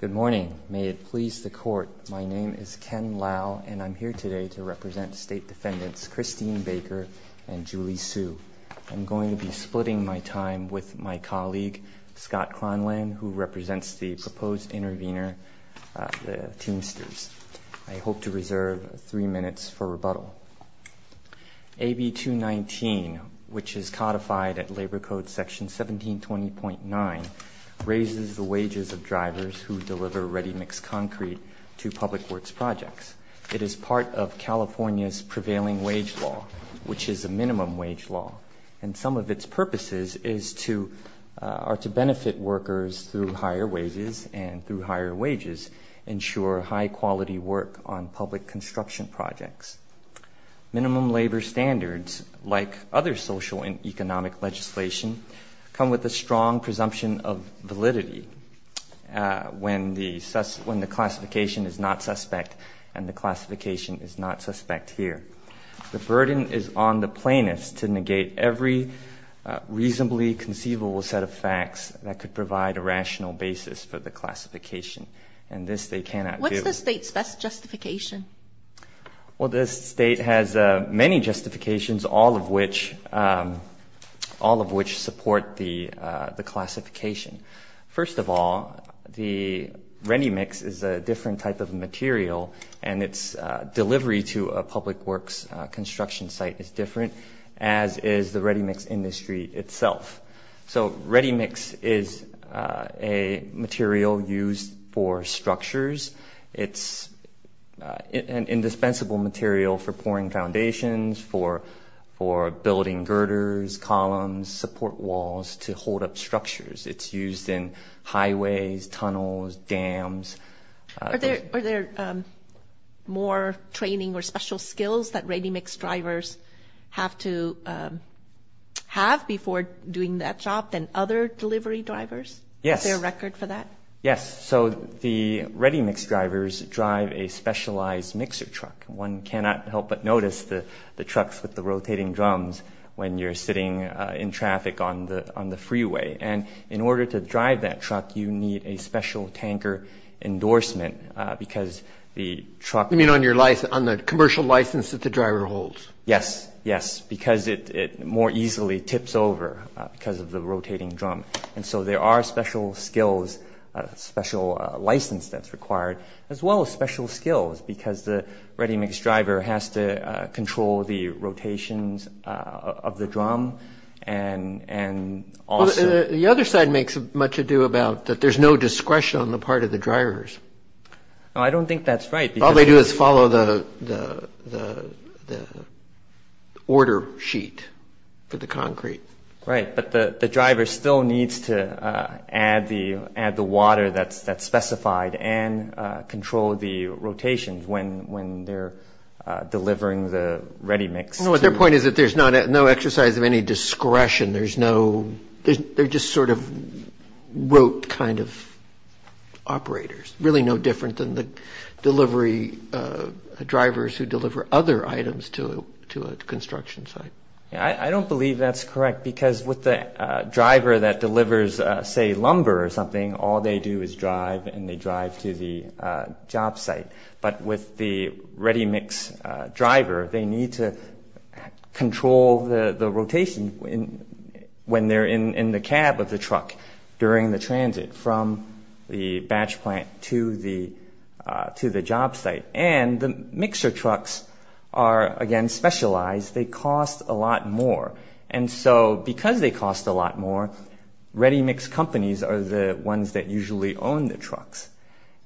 Good morning. May it please the Court, my name is Ken Lau and I'm here today to represent State Defendants Christine Baker and Julie Hsu. I'm going to be splitting my time with my colleague, Scott Cronland, who represents the proposed intervener, the Teamsters. I AB 219, which is codified at Labor Code Section 1720.9, raises the wages of drivers who deliver ready-mixed concrete to public works projects. It is part of California's prevailing wage law, which is a minimum wage law, and some of its purposes are to benefit workers through higher wages, ensure high-quality work on public construction projects. Minimum labor standards, like other social and economic legislation, come with a strong presumption of validity when the classification is not suspect and the classification is not suspect here. The burden is on the plaintiffs to negate every reasonably conceivable set of facts that could provide a rational basis for the classification, and this they cannot do. What's the state's best justification? Well, the state has many justifications, all of which support the classification. First of all, the ready-mix is a different type of material and its delivery to a public works construction site is different, as is the ready-mix industry itself. So ready-mix is a material used for structures. It's an indispensable material for pouring foundations, for building girders, columns, support walls to hold up structures. It's used in highways, tunnels, dams. Are there more training or special skills that ready-mix drivers have to have before doing that job than other delivery drivers? Is there a record for that? Yes. So the ready-mix drivers drive a specialized mixer truck. One cannot help but notice the trucks with the rotating drums when you're sitting in traffic on the freeway. And in the commercial license that the driver holds. Yes, yes, because it more easily tips over because of the rotating drum. And so there are special skills, special license that's required, as well as special skills, because the ready-mix driver has to control the rotations of the drum. The other side makes much ado about that there's no discretion on the part of the drivers. No, I don't think that's right. All they do is follow the order sheet for the concrete. Right, but the driver still needs to add the water that's specified and control the rotations when they're delivering the ready-mix. No, their point is that there's no exercise of any discretion. There's no, they're just sort of rote kind of operators. Really no different than the delivery drivers who deliver other items to a construction site. I don't believe that's correct because with the driver that delivers, say, lumber or something, all they do is drive and they drive to the job site. But with the ready-mix driver, they need to control the rotation when they're in the cab of the truck during the transit from the batch plant to the job site. And the mixer trucks are, again, specialized. They cost a lot more. And so because they cost a lot more, ready-mix companies are the ones that usually own the trucks.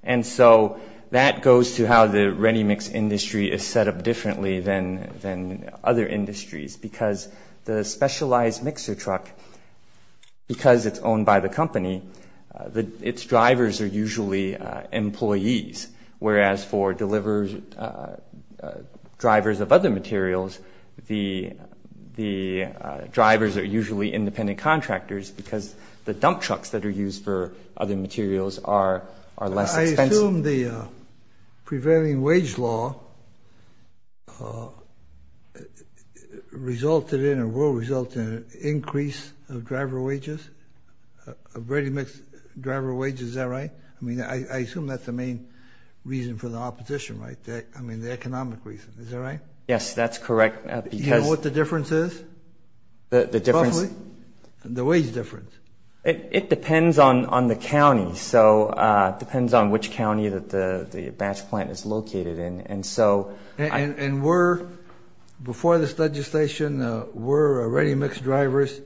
And so that goes to how the ready-mix industry is set up differently than other industries because the specialized mixer truck, because it's owned by the company, its drivers are usually employees, whereas for drivers of other materials, the drivers are usually independent contractors because the dump trucks that are used for other materials are less expensive. I assume the prevailing wage law resulted in or will result in an increase of driver wages, of ready-mix driver wages. Is that right? I mean, I assume that's the main reason for the opposition, right? I mean, the economic reason. Is that right? Yes, that's correct. Do you know what the difference is? The difference? Roughly, the wage difference. It depends on the county. So it depends on which county that the batch plant is located in. And were, before this legislation, were ready-mix drivers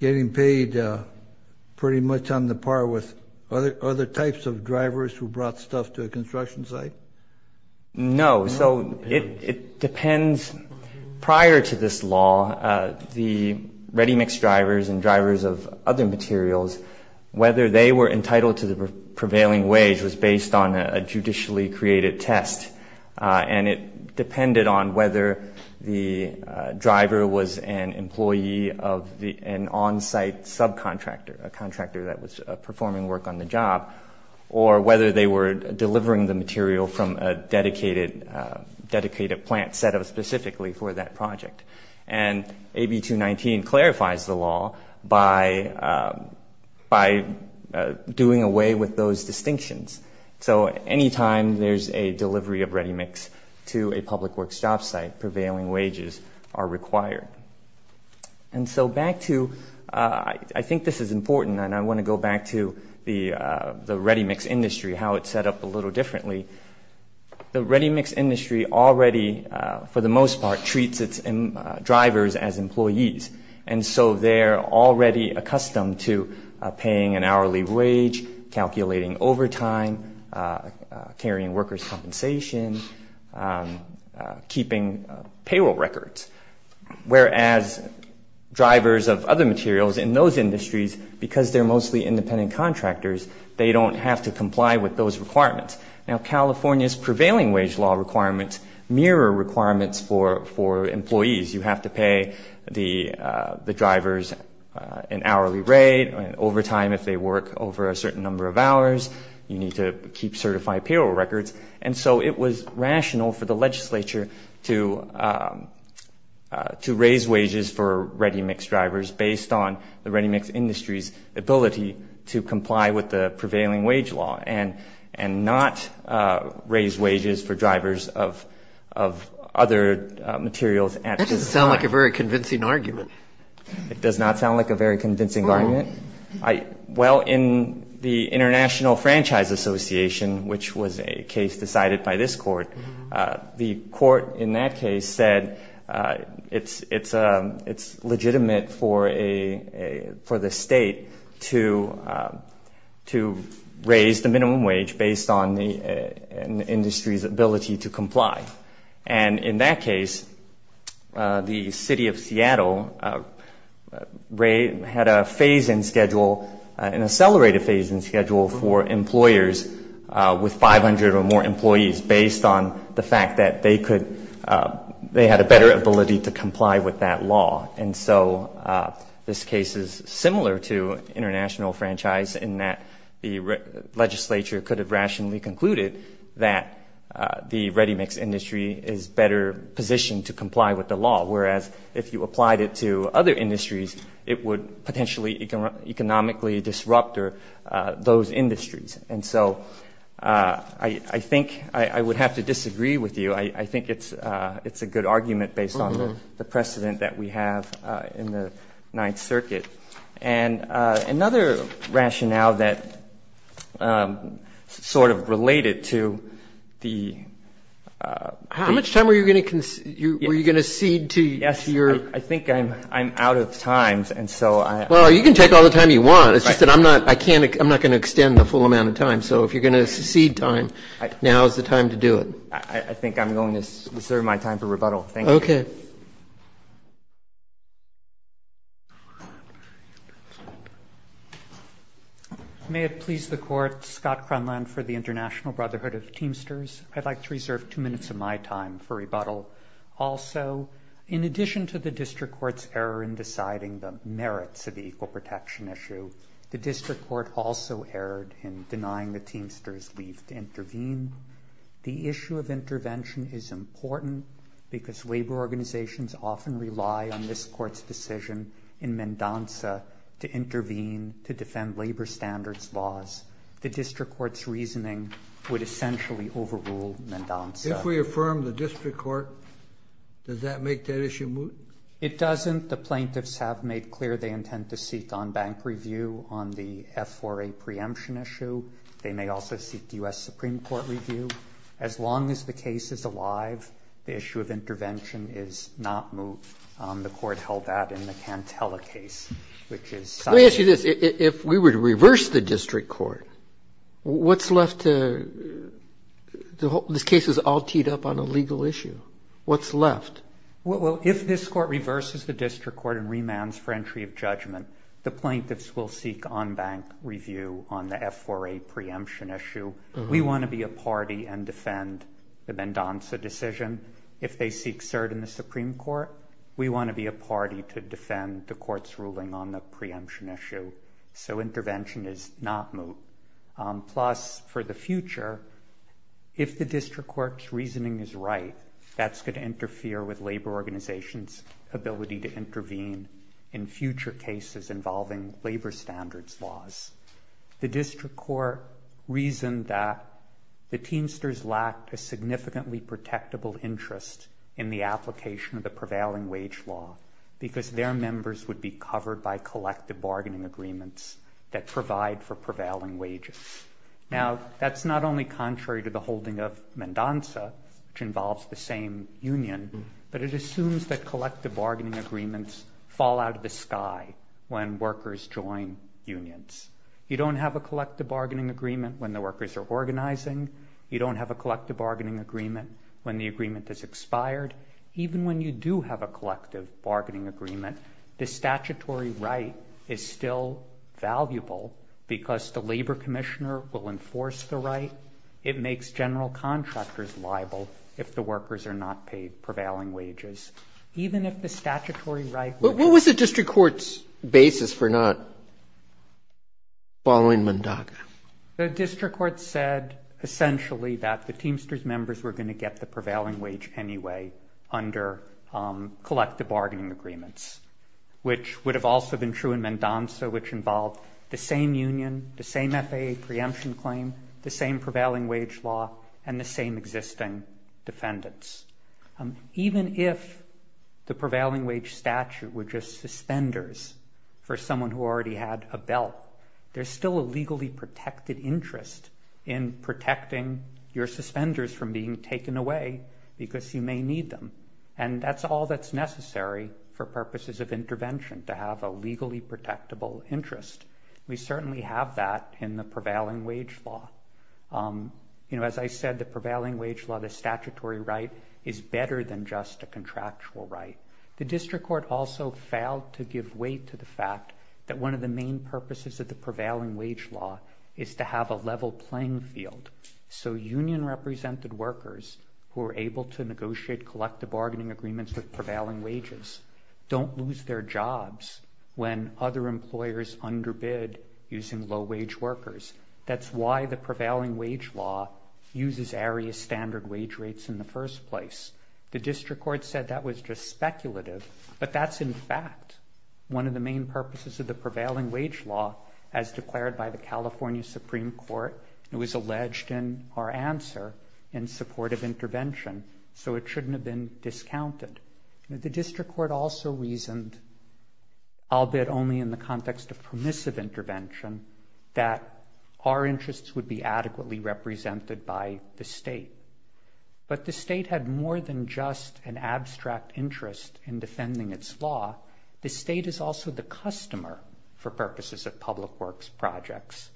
getting paid pretty much on the par with other types of drivers who brought stuff to a construction site? No. So it depends. Prior to this law, the ready-mix drivers and drivers of other materials, whether they were entitled to the prevailing wage was based on a judicially created test. And it depended on whether the driver was an employee of an on-site subcontractor, a from a dedicated plant set up specifically for that project. And AB 219 clarifies the law by doing away with those distinctions. So anytime there's a delivery of ready-mix to a public works job site, prevailing wages are required. And so back to, I think this is important, and I want to go back to the ready-mix industry, how it's set up a little differently. The ready-mix industry already, for the most part, treats its drivers as employees. And so they're already accustomed to paying an hourly wage, calculating overtime, carrying workers' compensation, keeping payroll records. Whereas drivers of other materials in those industries, because they're mostly independent contractors, they don't have to comply with those requirements. Now, California's prevailing wage law requirements mirror requirements for employees. You have to pay the drivers an hourly rate, overtime if they work over a certain number of hours. You need to keep certified payroll records. And so it was rational for the legislature to raise wages for ready-mix drivers based on the ready-mix industry's ability to comply with the prevailing wage law and not raise wages for drivers of other materials. That doesn't sound like a very convincing argument. It does not sound like a very convincing argument? No. Well, in the International Franchise Association, which was a case decided by this court, the court in that case said it's legitimate for the state to raise the minimum wage based on the industry's ability to comply. And in that case, the city of Seattle had a phase-in schedule, an accelerated phase-in schedule, for employers with 500 or more employees based on the fact that they could, they had a better ability to comply with that law. And so this case is similar to international franchise in that the legislature could have rationally concluded that the ready-mix industry is better positioned to comply with the law, whereas if you applied it to other industries, it would potentially economically disrupt those industries. And so I think I would have to disagree with you. I think it's a good argument based on the precedent that we have in the Ninth Circuit. And another rationale that sort of related to the – How much time were you going to cede to your – Yes, I think I'm out of time. Well, you can take all the time you want. It's just that I'm not going to extend the full amount of time. So if you're going to cede time, now is the time to do it. I think I'm going to reserve my time for rebuttal. Thank you. Okay. May it please the Court. Scott Cronland for the International Brotherhood of Teamsters. I'd like to reserve two minutes of my time for rebuttal. Also, in addition to the district court's error in deciding the merits of the equal protection issue, the district court also erred in denying the Teamsters leave to intervene. The issue of intervention is important because labor organizations often rely on this court's decision in Mendoza to intervene to defend labor standards laws. The district court's reasoning would essentially overrule Mendoza. If we affirm the district court, does that make that issue moot? It doesn't. The plaintiffs have made clear they intend to seek on-bank review on the F4A preemption issue. They may also seek U.S. Supreme Court review. As long as the case is alive, the issue of intervention is not moot. The court held that in the Cantela case, which is cited. Let me ask you this. If we were to reverse the district court, what's left to – this case is all teed up on a legal issue. What's left? Well, if this court reverses the district court and remands for entry of judgment, the plaintiffs will seek on-bank review on the F4A preemption issue. We want to be a party and defend the Mendoza decision. If they seek cert in the Supreme Court, we want to be a party to defend the court's ruling on the preemption issue. So intervention is not moot. Plus, for the future, if the district court's reasoning is right, that's going to interfere with labor organizations' ability to intervene in future cases involving labor standards laws. The district court reasoned that the Teamsters lacked a significantly protectable interest in the application of the prevailing wage law because their members would be covered by collective bargaining agreements that provide for prevailing wages. Now, that's not only contrary to the holding of Mendoza, which involves the same union, but it assumes that collective bargaining agreements fall out of the sky when workers join unions. You don't have a collective bargaining agreement when the workers are organizing. You don't have a collective bargaining agreement when the agreement is expired. Even when you do have a collective bargaining agreement, the statutory right is still valuable because the labor commissioner will enforce the right. It makes general contractors liable if the workers are not paid prevailing wages. Even if the statutory right were to be paid. Roberts. What was the district court's basis for not following Mendoza? Katyal. The district court said essentially that the Teamsters members were going to get the prevailing wage anyway under collective bargaining agreements, which would have also been true in Mendoza, which involved the same union, the same FAA preemption claim, the same prevailing wage law, and the same existing defendants. Even if the prevailing wage statute were just suspenders for someone who already had a belt, there's still a legally protected interest in protecting your suspenders from being taken away because you may need them. And that's all that's necessary for purposes of intervention to have a legally protectable interest. We certainly have that in the prevailing wage law. You know, as I said, the prevailing wage law, the statutory right is better than just a contractual right. The district court also failed to give weight to the fact that one of the main purposes of the prevailing wage law is to have a level playing field. So union represented workers who are able to negotiate collective bargaining agreements with prevailing wages don't lose their jobs when other employers underbid using low wage workers. That's why the prevailing wage law uses area standard wage rates in the first place. The district court said that was just speculative, but that's in fact one of the main purposes of the prevailing wage law. As declared by the California Supreme Court, it was alleged in our answer in support of intervention. So it shouldn't have been discounted. The district court also reasoned, albeit only in the context of permissive intervention, that our interests would be adequately represented by the state. But the state had more than just an abstract interest in defending its law. The state is also the customer for purposes of public works projects.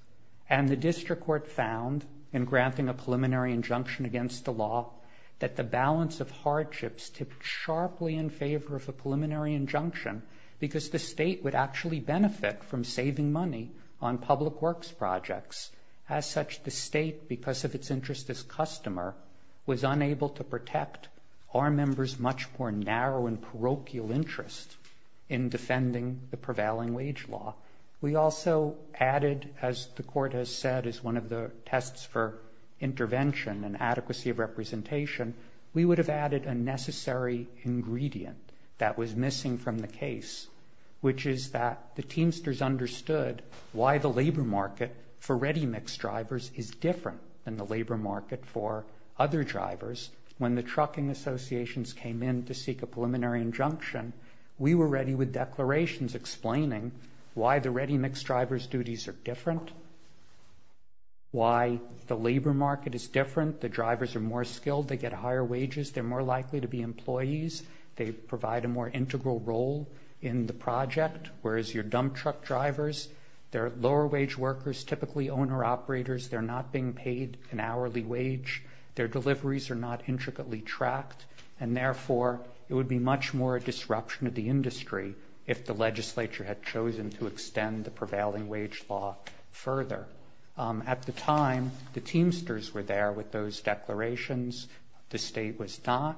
And the district court found in granting a preliminary injunction against the law that the balance of hardships tipped sharply in favor of a preliminary injunction because the state would actually benefit from saving money on public works projects. As such, the state, because of its interest as customer, was unable to protect our members' much more narrow and parochial interest in defending the prevailing wage law. We also added, as the court has said is one of the tests for intervention and adequacy of representation, we would have added a necessary ingredient that was missing from the case, which is that the Teamsters understood why the labor market for ready-mix drivers is different than the labor market for other drivers. When the trucking associations came in to seek a preliminary injunction, we were ready with declarations explaining why the ready-mix drivers' duties are different, why the labor market is different, the drivers are more skilled, they get higher wages, they're more likely to be employees, they provide a more integral role in the project, whereas your dump truck drivers, they're lower-wage workers, typically owner-operators, they're not being paid an hourly wage, their deliveries are not intricately tracked, and therefore it would be much more a disruption of the industry if the legislature had chosen to extend the prevailing wage law further. At the time, the Teamsters were there with those declarations, the state was not.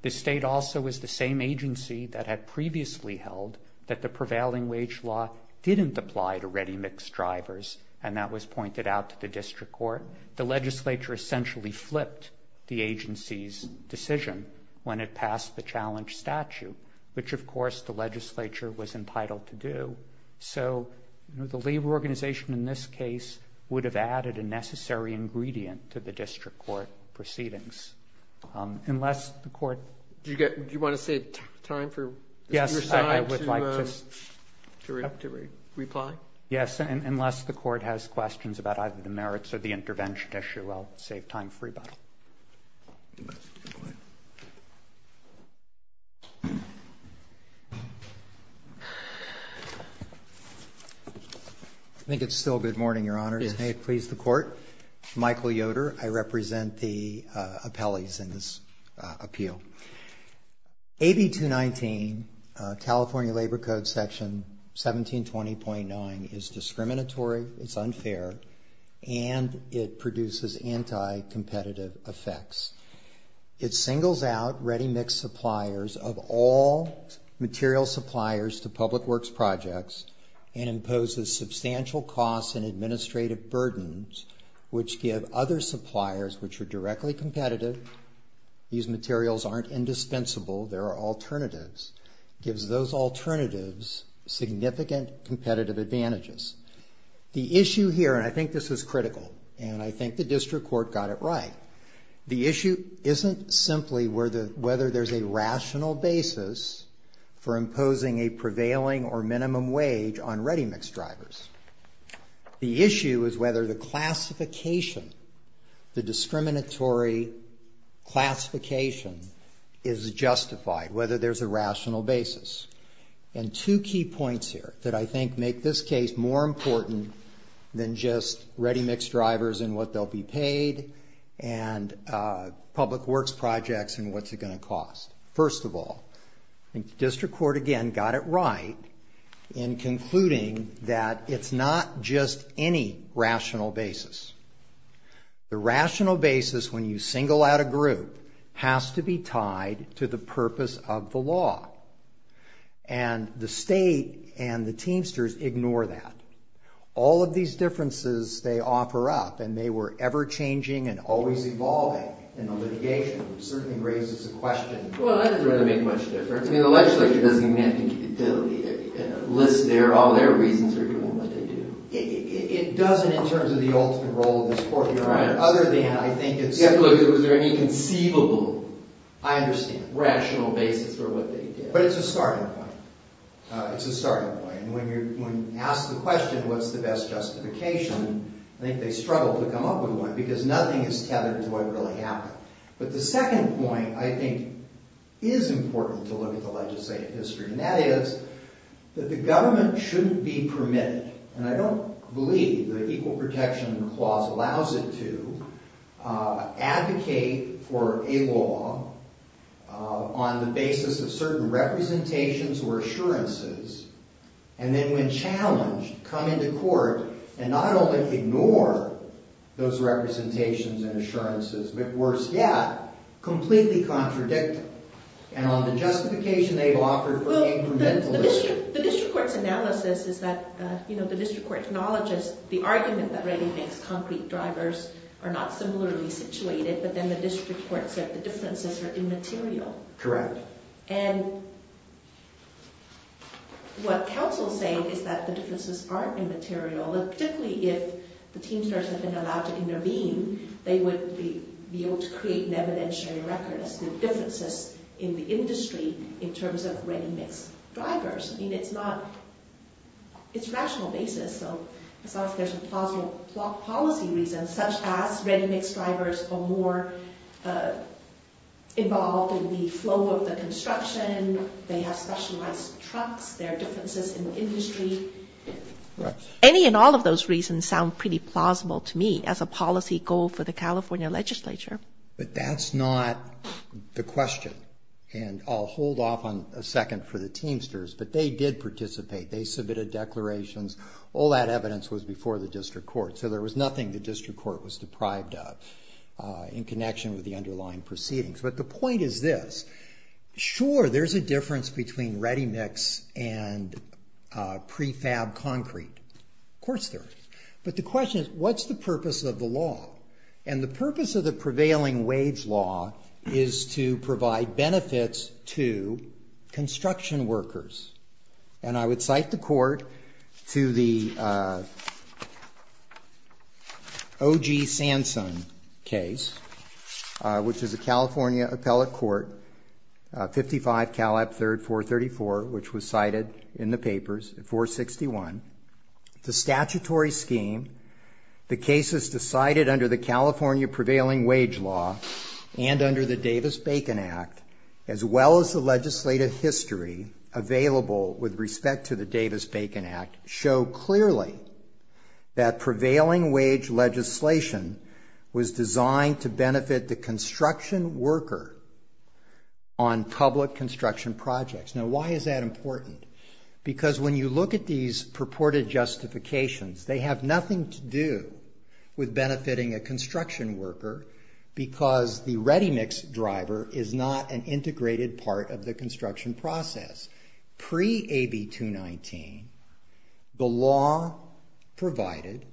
The state also was the same agency that had previously held that the prevailing wage law didn't apply to ready-mix drivers, and that was pointed out to the district court. The legislature essentially flipped the agency's decision when it passed the challenge statute, which, of course, the legislature was entitled to do. So the labor organization in this case would have added a necessary ingredient to the district court proceedings. Do you want to save time for your side to reply? Yes, unless the court has questions about either the merits or the intervention issue, I'll save time for rebuttal. I think it's still good morning, Your Honors. May it please the Court. Michael Yoder, I represent the appellees in this appeal. AB 219, California Labor Code Section 1720.9, is discriminatory, it's unfair, and it produces anti-competitive effects. It singles out ready-mix suppliers of all material suppliers to public works projects and imposes substantial costs and administrative burdens, which give other suppliers, which are directly competitive, these materials aren't indispensable, there are alternatives, gives those alternatives significant competitive advantages. The issue here, and I think this is critical, and I think the district court got it right, the issue isn't simply whether there's a rational basis for imposing a prevailing or minimum wage on ready-mix drivers. The issue is whether the classification, the discriminatory classification, is justified, whether there's a rational basis. And two key points here that I think make this case more important than just ready-mix drivers and what they'll be paid First of all, I think the district court, again, got it right in concluding that it's not just any rational basis. The rational basis, when you single out a group, has to be tied to the purpose of the law. And the state and the Teamsters ignore that. All of these differences they offer up, and they were ever-changing and always evolving in the litigation, certainly raises a question. Well, that doesn't really make much difference. I mean, the legislature doesn't list all their reasons for doing what they do. It doesn't in terms of the ultimate role of this court. Right. Other than, I think it's... Yeah, but look, was there any conceivable, I understand, rational basis for what they did? But it's a starting point. It's a starting point. And when you ask the question, what's the best justification, I think they struggle to come up with one, because nothing is tethered to what really happened. But the second point, I think, is important to look at the legislative history, and that is that the government shouldn't be permitted, and I don't believe the Equal Protection Clause allows it to, advocate for a law on the basis of certain representations or assurances, and then when challenged, come into court and not only ignore those representations and assurances, but worse yet, completely contradict them. And on the justification they've offered for incrementalism... Well, the district court's analysis is that, you know, the district court acknowledges the argument that ready-mixed concrete drivers are not similarly situated, but then the district court said the differences are immaterial. Correct. And what counsels say is that the differences aren't immaterial, particularly if the teamsters have been allowed to intervene, they would be able to create an evidentiary record as to the differences in the industry in terms of ready-mixed drivers. I mean, it's not... it's a rational basis, so it's not as if there's a plausible policy reason, such as ready-mixed drivers are more involved in the flow of the construction, they have specialized trucks, there are differences in the industry. Any and all of those reasons sound pretty plausible to me as a policy goal for the California legislature. But that's not the question, and I'll hold off on a second for the teamsters, but they did participate. They submitted declarations. All that evidence was before the district court, so there was nothing the district court was deprived of in connection with the underlying proceedings. But the point is this. Sure, there's a difference between ready-mix and prefab concrete. Of course there is. But the question is, what's the purpose of the law? And the purpose of the prevailing wage law is to provide benefits to construction workers. And I would cite the court to the O.G. Sansone case, which is a California appellate court, 55 Caleb 3rd, 434, which was cited in the papers, 461. The statutory scheme, the cases decided under the California prevailing wage law and under the Davis-Bacon Act, as well as the legislative history available with respect to the Davis-Bacon Act, show clearly that prevailing wage legislation was designed to benefit the construction worker on public construction projects. Now, why is that important? Because when you look at these purported justifications, they have nothing to do with benefiting a construction worker because the ready-mix driver is not an integrated part of the construction process. Pre-AB 219, the law provided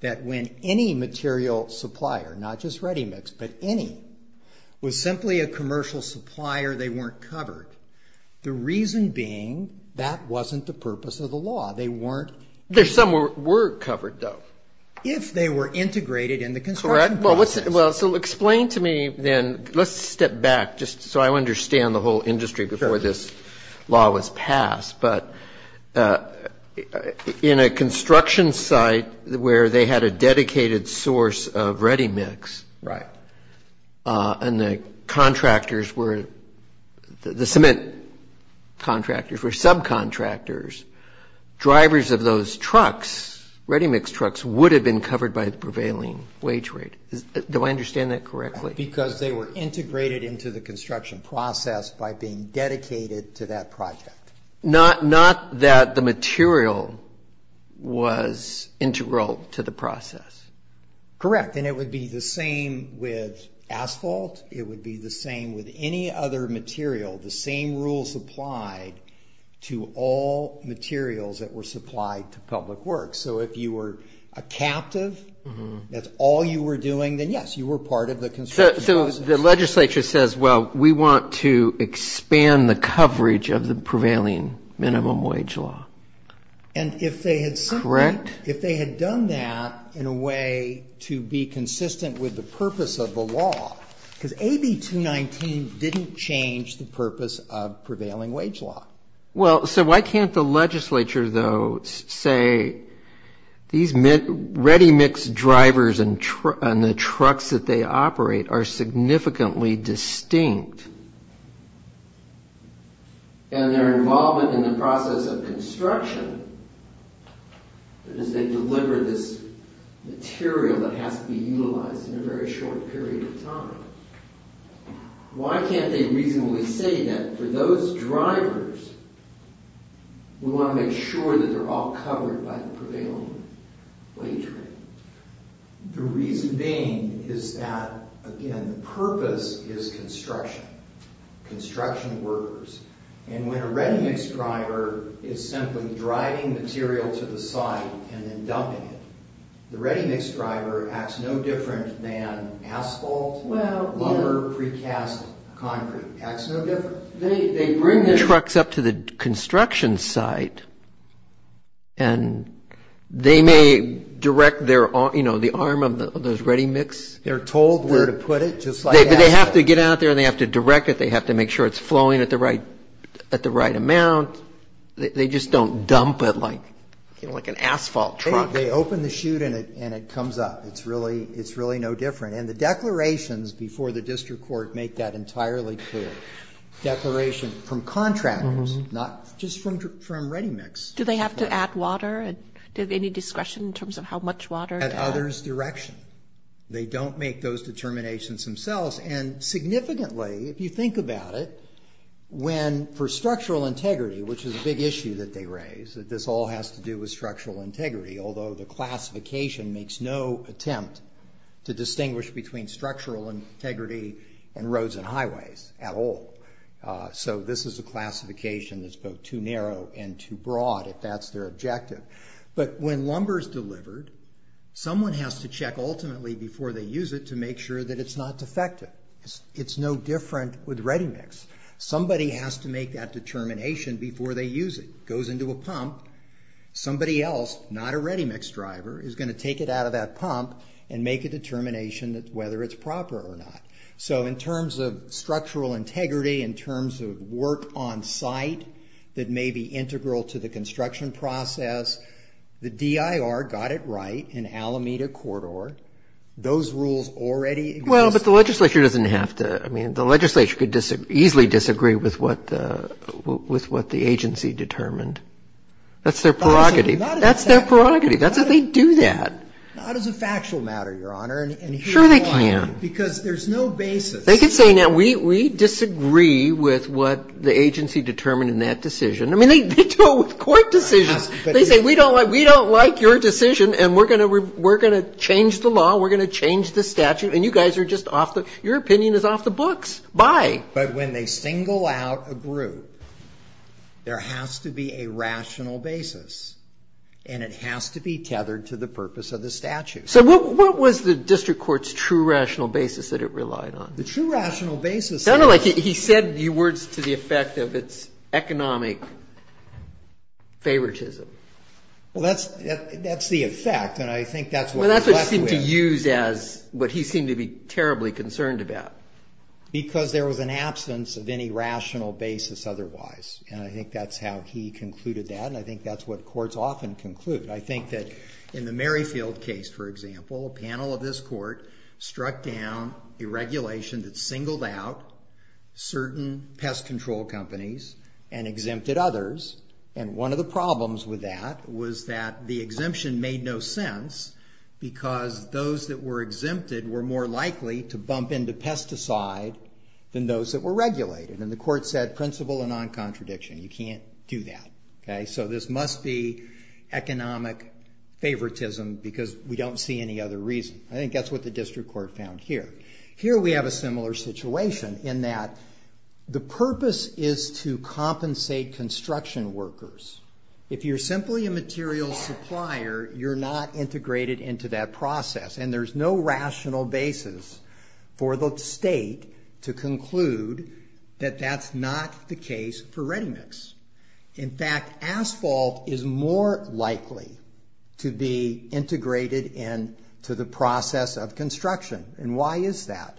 that when any material supplier, not just ready-mix, but any, was simply a commercial supplier, they weren't covered. The reason being, that wasn't the purpose of the law. They weren't... There some were covered, though. If they were integrated in the construction process. Well, so explain to me then, let's step back just so I understand the whole industry before this law was passed. But in a construction site where they had a dedicated source of ready-mix... Right. ...and the contractors were, the cement contractors were subcontractors, drivers of those trucks, ready-mix trucks, would have been covered by the prevailing wage rate. Do I understand that correctly? Because they were integrated into the construction process by being dedicated to that project. Not that the material was integral to the process. Correct. And it would be the same with asphalt. It would be the same with any other material, the same rules applied to all materials that were supplied to public works. So if you were a captive, that's all you were doing, then yes, you were part of the construction process. So the legislature says, well, we want to expand the coverage of the prevailing minimum wage law. And if they had simply... Correct. ...if they had done that in a way to be consistent with the purpose of the law, because AB 219 didn't change the purpose of prevailing wage law. Well, so why can't the legislature, though, say these ready-mix drivers and the trucks that they operate are significantly distinct and their involvement in the process of construction, because they deliver this material that has to be utilized in a very short period of time. Why can't they reasonably say that for those drivers, we want to make sure that they're all covered by the prevailing wage rate? The reason being is that, again, the purpose is construction, construction workers. And when a ready-mix driver is simply driving material to the site and then dumping it, the ready-mix driver acts no different than asphalt. Well, yeah. Lumber, precast, concrete. Acts no different. They bring the trucks up to the construction site and they may direct the arm of those ready-mix... They're told where to put it, just like asphalt. They have to get out there and they have to direct it. They have to make sure it's flowing at the right amount. They just don't dump it like an asphalt truck. They open the chute and it comes up. It's really no different. And the declarations before the district court make that entirely clear. Declaration from contractors, not just from ready-mix. Do they have to add water? Do they have any discretion in terms of how much water? Add others' direction. They don't make those determinations themselves. And significantly, if you think about it, when for structural integrity, which is a big issue that they raise, that this all has to do with structural integrity, although the classification makes no attempt to distinguish between structural integrity and roads and highways at all. So this is a classification that's both too narrow and too broad, if that's their objective. But when lumber is delivered, someone has to check ultimately before they use it to make sure that it's not defective. It's no different with ready-mix. Somebody has to make that determination before they use it. It goes into a pump. Somebody else, not a ready-mix driver, is going to take it out of that pump and make a determination whether it's proper or not. So in terms of structural integrity, in terms of work on site that may be integral to the construction process, the DIR got it right in Alameda Corridor. Those rules already exist. Well, but the legislature doesn't have to. I mean, the legislature could easily disagree with what the agency determined. That's their prerogative. That's their prerogative. That's how they do that. Not as a factual matter, Your Honor. Sure they can. Because there's no basis. They could say, now, we disagree with what the agency determined in that decision. I mean, they do it with court decisions. They say, we don't like your decision, and we're going to change the law. We're going to change the statute. And you guys are just off the – your opinion is off the books. Bye. But when they single out a group, there has to be a rational basis, and it has to be tethered to the purpose of the statute. So what was the district court's true rational basis that it relied on? The true rational basis is – No, no, like he said words to the effect of its economic favoritism. Well, that's the effect, and I think that's what he left with. Well, that's what he seemed to use as what he seemed to be terribly concerned about. Because there was an absence of any rational basis otherwise, and I think that's how he concluded that, and I think that's what courts often conclude. I think that in the Merrifield case, for example, a panel of this court struck down a regulation that singled out certain pest control companies and exempted others, and one of the problems with that was that the exemption made no sense because those that were exempted were more likely to bump into pesticide than those that were regulated, and the court said principle and non-contradiction. You can't do that. So this must be economic favoritism because we don't see any other reason. I think that's what the district court found here. Here we have a similar situation in that the purpose is to compensate construction workers. If you're simply a material supplier, you're not integrated into that process, and there's no rational basis for the state to conclude that that's not the case for ReadyMix. In fact, asphalt is more likely to be integrated into the process of construction, and why is that?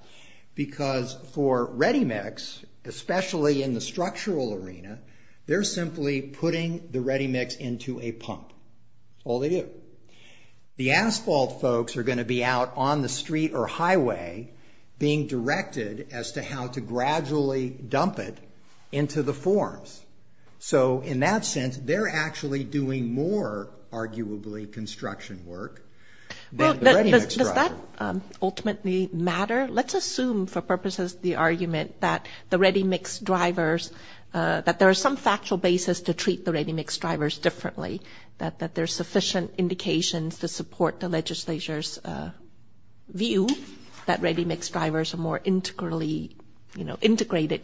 Because for ReadyMix, especially in the structural arena, they're simply putting the ReadyMix into a pump. That's all they do. The asphalt folks are going to be out on the street or highway being directed as to how to gradually dump it into the forms. So in that sense, they're actually doing more, arguably, construction work than the ReadyMix driver. Does that ultimately matter? Let's assume for purposes of the argument that the ReadyMix drivers, that there is some factual basis to treat the ReadyMix drivers differently, that there's sufficient indications to support the legislature's view that ReadyMix drivers are more integrated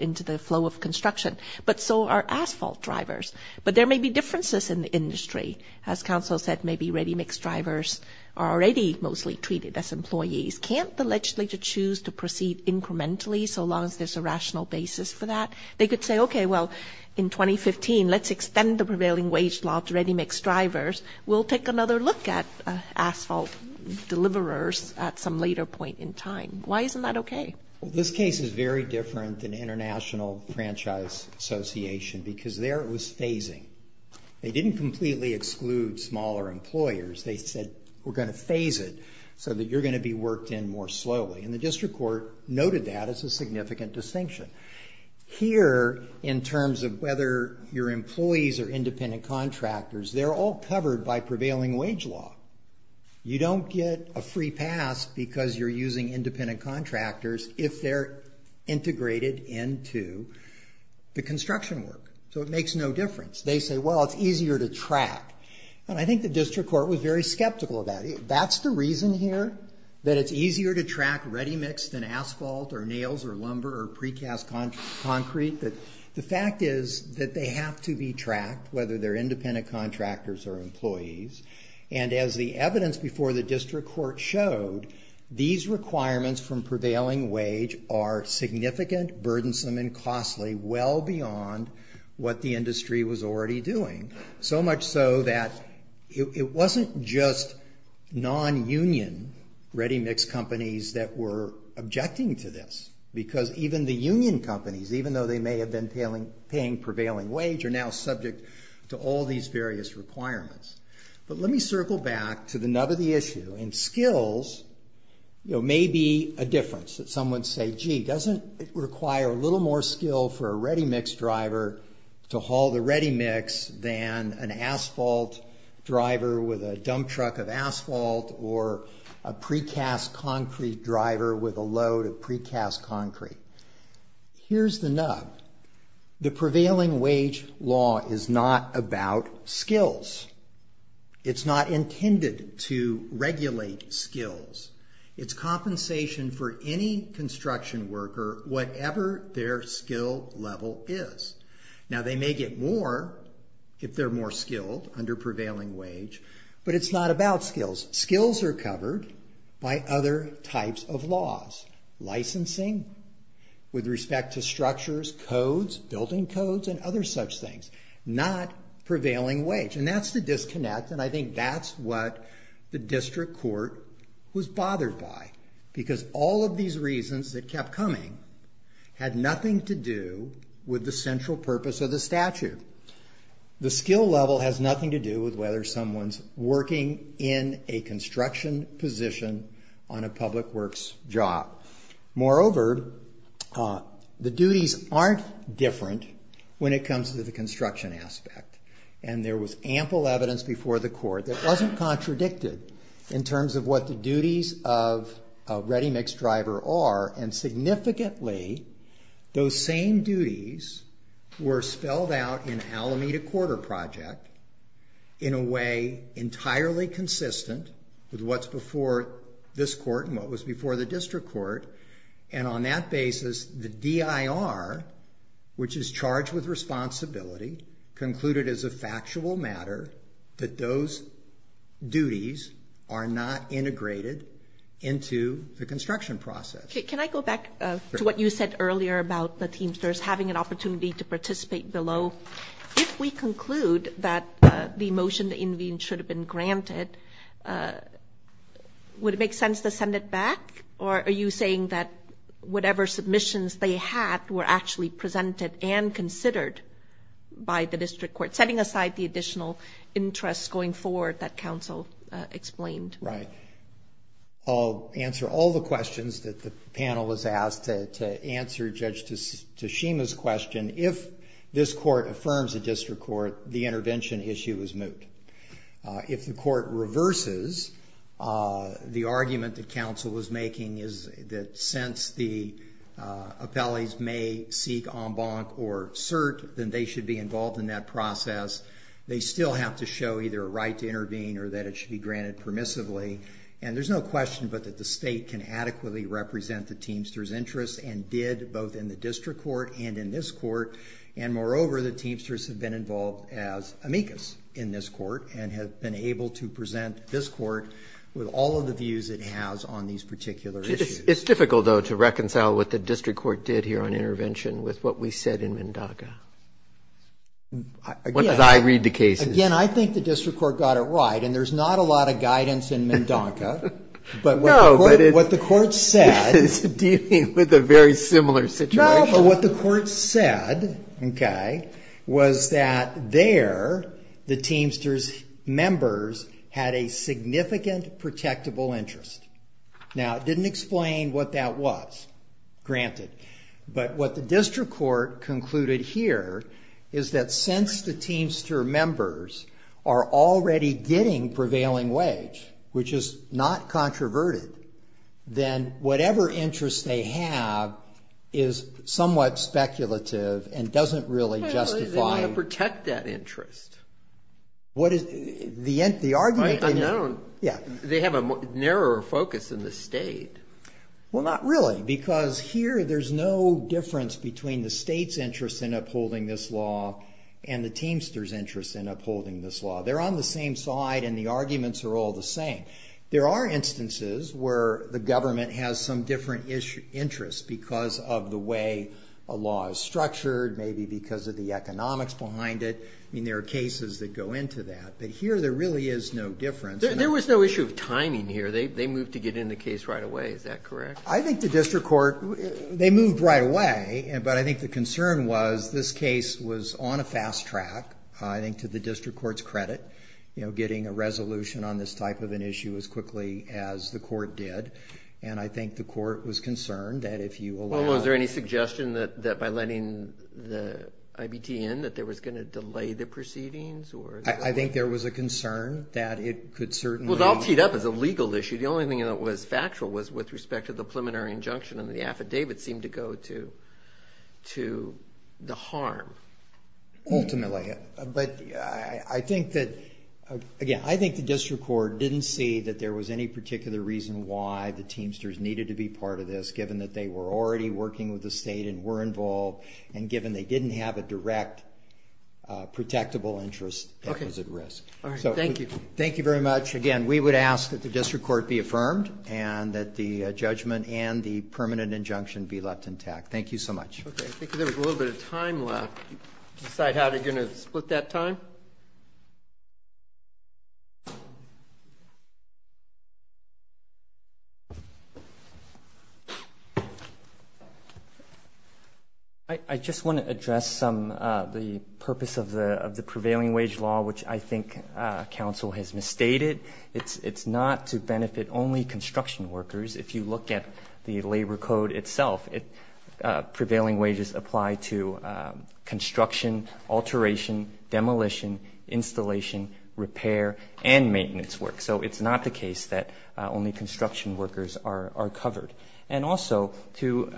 into the flow of construction, but so are asphalt drivers. But there may be differences in the industry. As counsel said, maybe ReadyMix drivers are already mostly treated as employees. Can't the legislature choose to proceed incrementally so long as there's a rational basis for that? They could say, okay, well, in 2015, let's extend the prevailing wage law to ReadyMix drivers. We'll take another look at asphalt deliverers at some later point in time. Why isn't that okay? Well, this case is very different than International Franchise Association because there it was phasing. They didn't completely exclude smaller employers. They said, we're going to phase it so that you're going to be worked in more slowly. And the district court noted that as a significant distinction. Here, in terms of whether your employees are independent contractors, they're all covered by prevailing wage law. You don't get a free pass because you're using independent contractors if they're integrated into the construction work. So it makes no difference. They say, well, it's easier to track. And I think the district court was very skeptical of that. That's the reason here that it's easier to track ReadyMix than asphalt or nails or lumber or precast concrete. The fact is that they have to be tracked, whether they're independent contractors or employees. And as the evidence before the district court showed, these requirements from prevailing wage are significant, burdensome, and costly well beyond what the industry was already doing. So much so that it wasn't just non-union ReadyMix companies that were objecting to this. Because even the union companies, even though they may have been paying prevailing wage, are now subject to all these various requirements. But let me circle back to the nub of the issue. And skills may be a difference. Some would say, gee, doesn't it require a little more skill for a ReadyMix driver to haul the ReadyMix than an asphalt driver with a dump truck of asphalt or a precast concrete driver with a load of precast concrete. Here's the nub. The prevailing wage law is not about skills. It's not intended to regulate skills. It's compensation for any construction worker, whatever their skill level is. Now, they may get more if they're more skilled under prevailing wage, but it's not about skills. Skills are covered by other types of laws. Licensing with respect to structures, codes, building codes, and other such things. Not prevailing wage. And that's the disconnect, and I think that's what the district court was bothered by. Because all of these reasons that kept coming had nothing to do with the central purpose of the statute. The skill level has nothing to do with whether someone's working in a construction position on a public works job. Moreover, the duties aren't different when it comes to the construction aspect. And there was ample evidence before the court that wasn't contradicted in terms of what the duties of a ReadyMix driver are, and significantly, those same duties were spelled out in Alameda Quarter Project in a way entirely consistent with what's before this court and what was before the district court. And on that basis, the DIR, which is charged with responsibility, concluded as a factual matter that those duties are not integrated into the construction process. Can I go back to what you said earlier about the Teamsters having an opportunity to participate below? If we conclude that the motion to intervene should have been granted, would it make sense to send it back? Or are you saying that whatever submissions they had were actually presented and considered by the district court, setting aside the additional interests going forward that counsel explained? Right. I'll answer all the questions that the panel has asked to answer Judge Tashima's question. If this court affirms a district court, the intervention issue is moot. If the court reverses the argument that counsel was making, that since the appellees may seek en banc or cert, then they should be involved in that process, they still have to show either a right to intervene or that it should be granted permissively. And there's no question but that the state can adequately represent the Teamsters' interests and did both in the district court and in this court. And moreover, the Teamsters have been involved as amicus in this court and have been able to present this court with all of the views it has on these particular issues. It's difficult, though, to reconcile what the district court did here on intervention with what we said in MnDOTCA. What did I read the case as? Again, I think the district court got it right, and there's not a lot of guidance in MnDOTCA. But what the court said... No, but it's dealing with a very similar situation. No, but what the court said, okay, was that there the Teamsters' members had a significant protectable interest. Now, it didn't explain what that was, granted. But what the district court concluded here is that since the Teamster members are already getting prevailing wage, which is not controverted, then whatever interest they have is somewhat speculative and doesn't really justify... They want to protect that interest. The argument... They have a narrower focus in the state. Well, not really, because here there's no difference between the state's interest in upholding this law and the Teamsters' interest in upholding this law. They're on the same side, and the arguments are all the same. There are instances where the government has some different interests because of the way a law is structured, maybe because of the economics behind it. I mean, there are cases that go into that. But here there really is no difference. There was no issue of timing here. They moved to get in the case right away. Is that correct? I think the district court... They moved right away, but I think the concern was this case was on a fast track, I think, to the district court's credit, getting a resolution on this type of an issue as quickly as the court did. And I think the court was concerned that if you allowed... Well, was there any suggestion that by letting the IBT in that they were going to delay the proceedings? I think there was a concern that it could certainly... Well, it all teed up as a legal issue. The only thing that was factual was with respect to the preliminary injunction and the affidavit seemed to go to the harm. Ultimately. But I think that... Again, I think the district court didn't see that there was any particular reason why the Teamsters needed to be part of this given that they were already working with the state and were involved, and given they didn't have a direct protectable interest that was at risk. All right, thank you. Thank you very much. Again, we would ask that the district court be affirmed and that the judgment and the permanent injunction be left intact. Thank you so much. Okay, I think there was a little bit of time left. Do you decide how you're going to split that time? I just want to address the purpose of the prevailing wage law, which I think counsel has misstated. It's not to benefit only construction workers. If you look at the labor code itself, prevailing wages apply to construction, alteration, demolition, installation, repair, and maintenance work. So it's not the case that only construction workers are covered. And also, to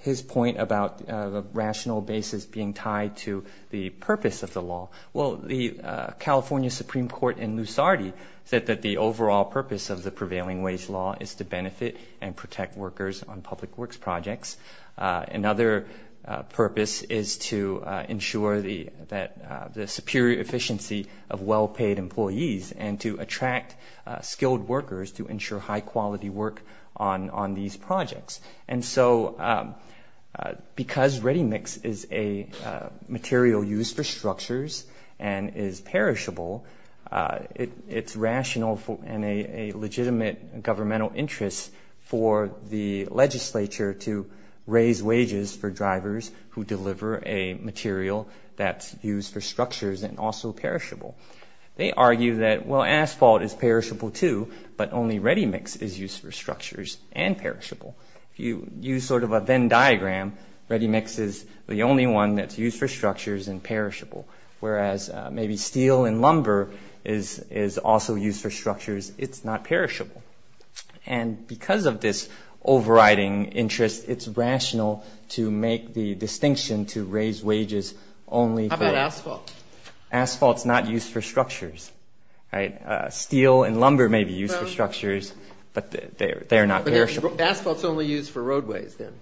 his point about the rational basis being tied to the purpose of the law, well, the California Supreme Court in Lusardi said that the overall purpose of the prevailing wage law is to benefit and protect workers on public works projects. Another purpose is to ensure the superior efficiency of well-paid employees and to attract skilled workers to ensure high-quality work on these projects. And so because ReadyMix is a material used for structures and is perishable, it's rational and a legitimate governmental interest for the legislature to raise wages for drivers who deliver a material that's used for structures and also perishable. They argue that, well, asphalt is perishable, too, but only ReadyMix is used for structures and perishable. If you use sort of a Venn diagram, ReadyMix is the only one that's used for structures and perishable, whereas maybe steel and lumber is also used for structures. It's not perishable. And because of this overriding interest, it's rational to make the distinction to raise wages only for... How about asphalt? Asphalt's not used for structures, right? Steel and lumber may be used for structures, but they're not perishable. Asphalt's only used for roadways, then?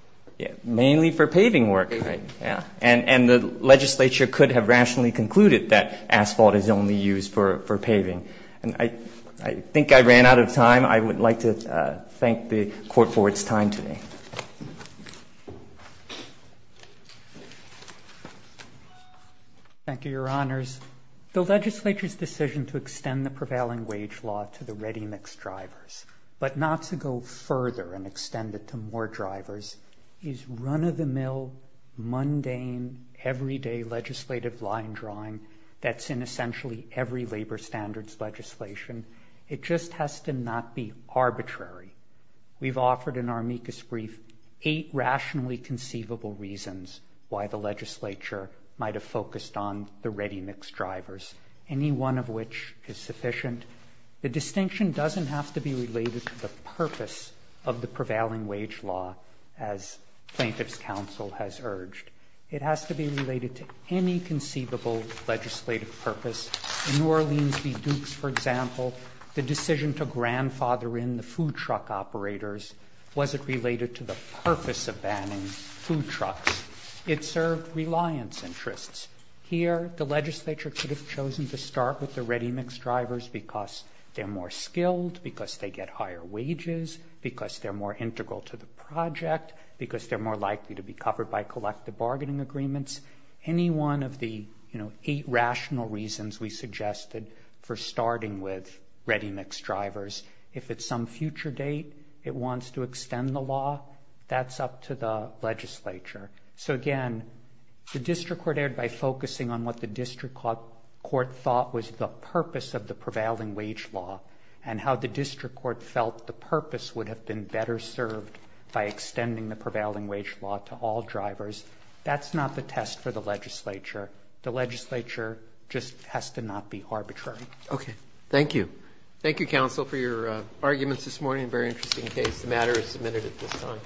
Mainly for paving work, yeah. And the legislature could have rationally concluded that asphalt is only used for paving. And I think I ran out of time. I would like to thank the Court for its time today. Thank you, Your Honors. The legislature's decision to extend the prevailing wage law to the ReadyMix drivers, but not to go further and extend it to more drivers, is run-of-the-mill, mundane, everyday legislative line drawing that's in essentially every labor standards legislation. It just has to not be arbitrary. We've offered in our amicus brief eight rationally conceivable reasons why the legislature might have focused on the ReadyMix drivers, any one of which is sufficient. The distinction doesn't have to be related to the purpose of the prevailing wage law as Plaintiff's Counsel has urged. It has to be related to any conceivable legislative purpose. In New Orleans v. Dukes, for example, the decision to grandfather in the food truck operators wasn't related to the purpose of banning food trucks. It served reliance interests. Here, the legislature could have chosen to start with the ReadyMix drivers because they're more skilled, because they get higher wages, because they're more integral to the project, because they're more likely to be covered by collective bargaining agreements. Any one of the eight rational reasons we suggested for starting with ReadyMix drivers. If at some future date it wants to extend the law, that's up to the legislature. So again, the district court erred by focusing on what the district court thought was the purpose of the prevailing wage law and how the district court felt the purpose would have been better served by extending the prevailing wage law to all drivers. That's not the test for the legislature. The legislature just has to not be arbitrary. Okay. Thank you. Thank you, counsel, for your arguments this morning. Very interesting case. The matter is submitted at this time.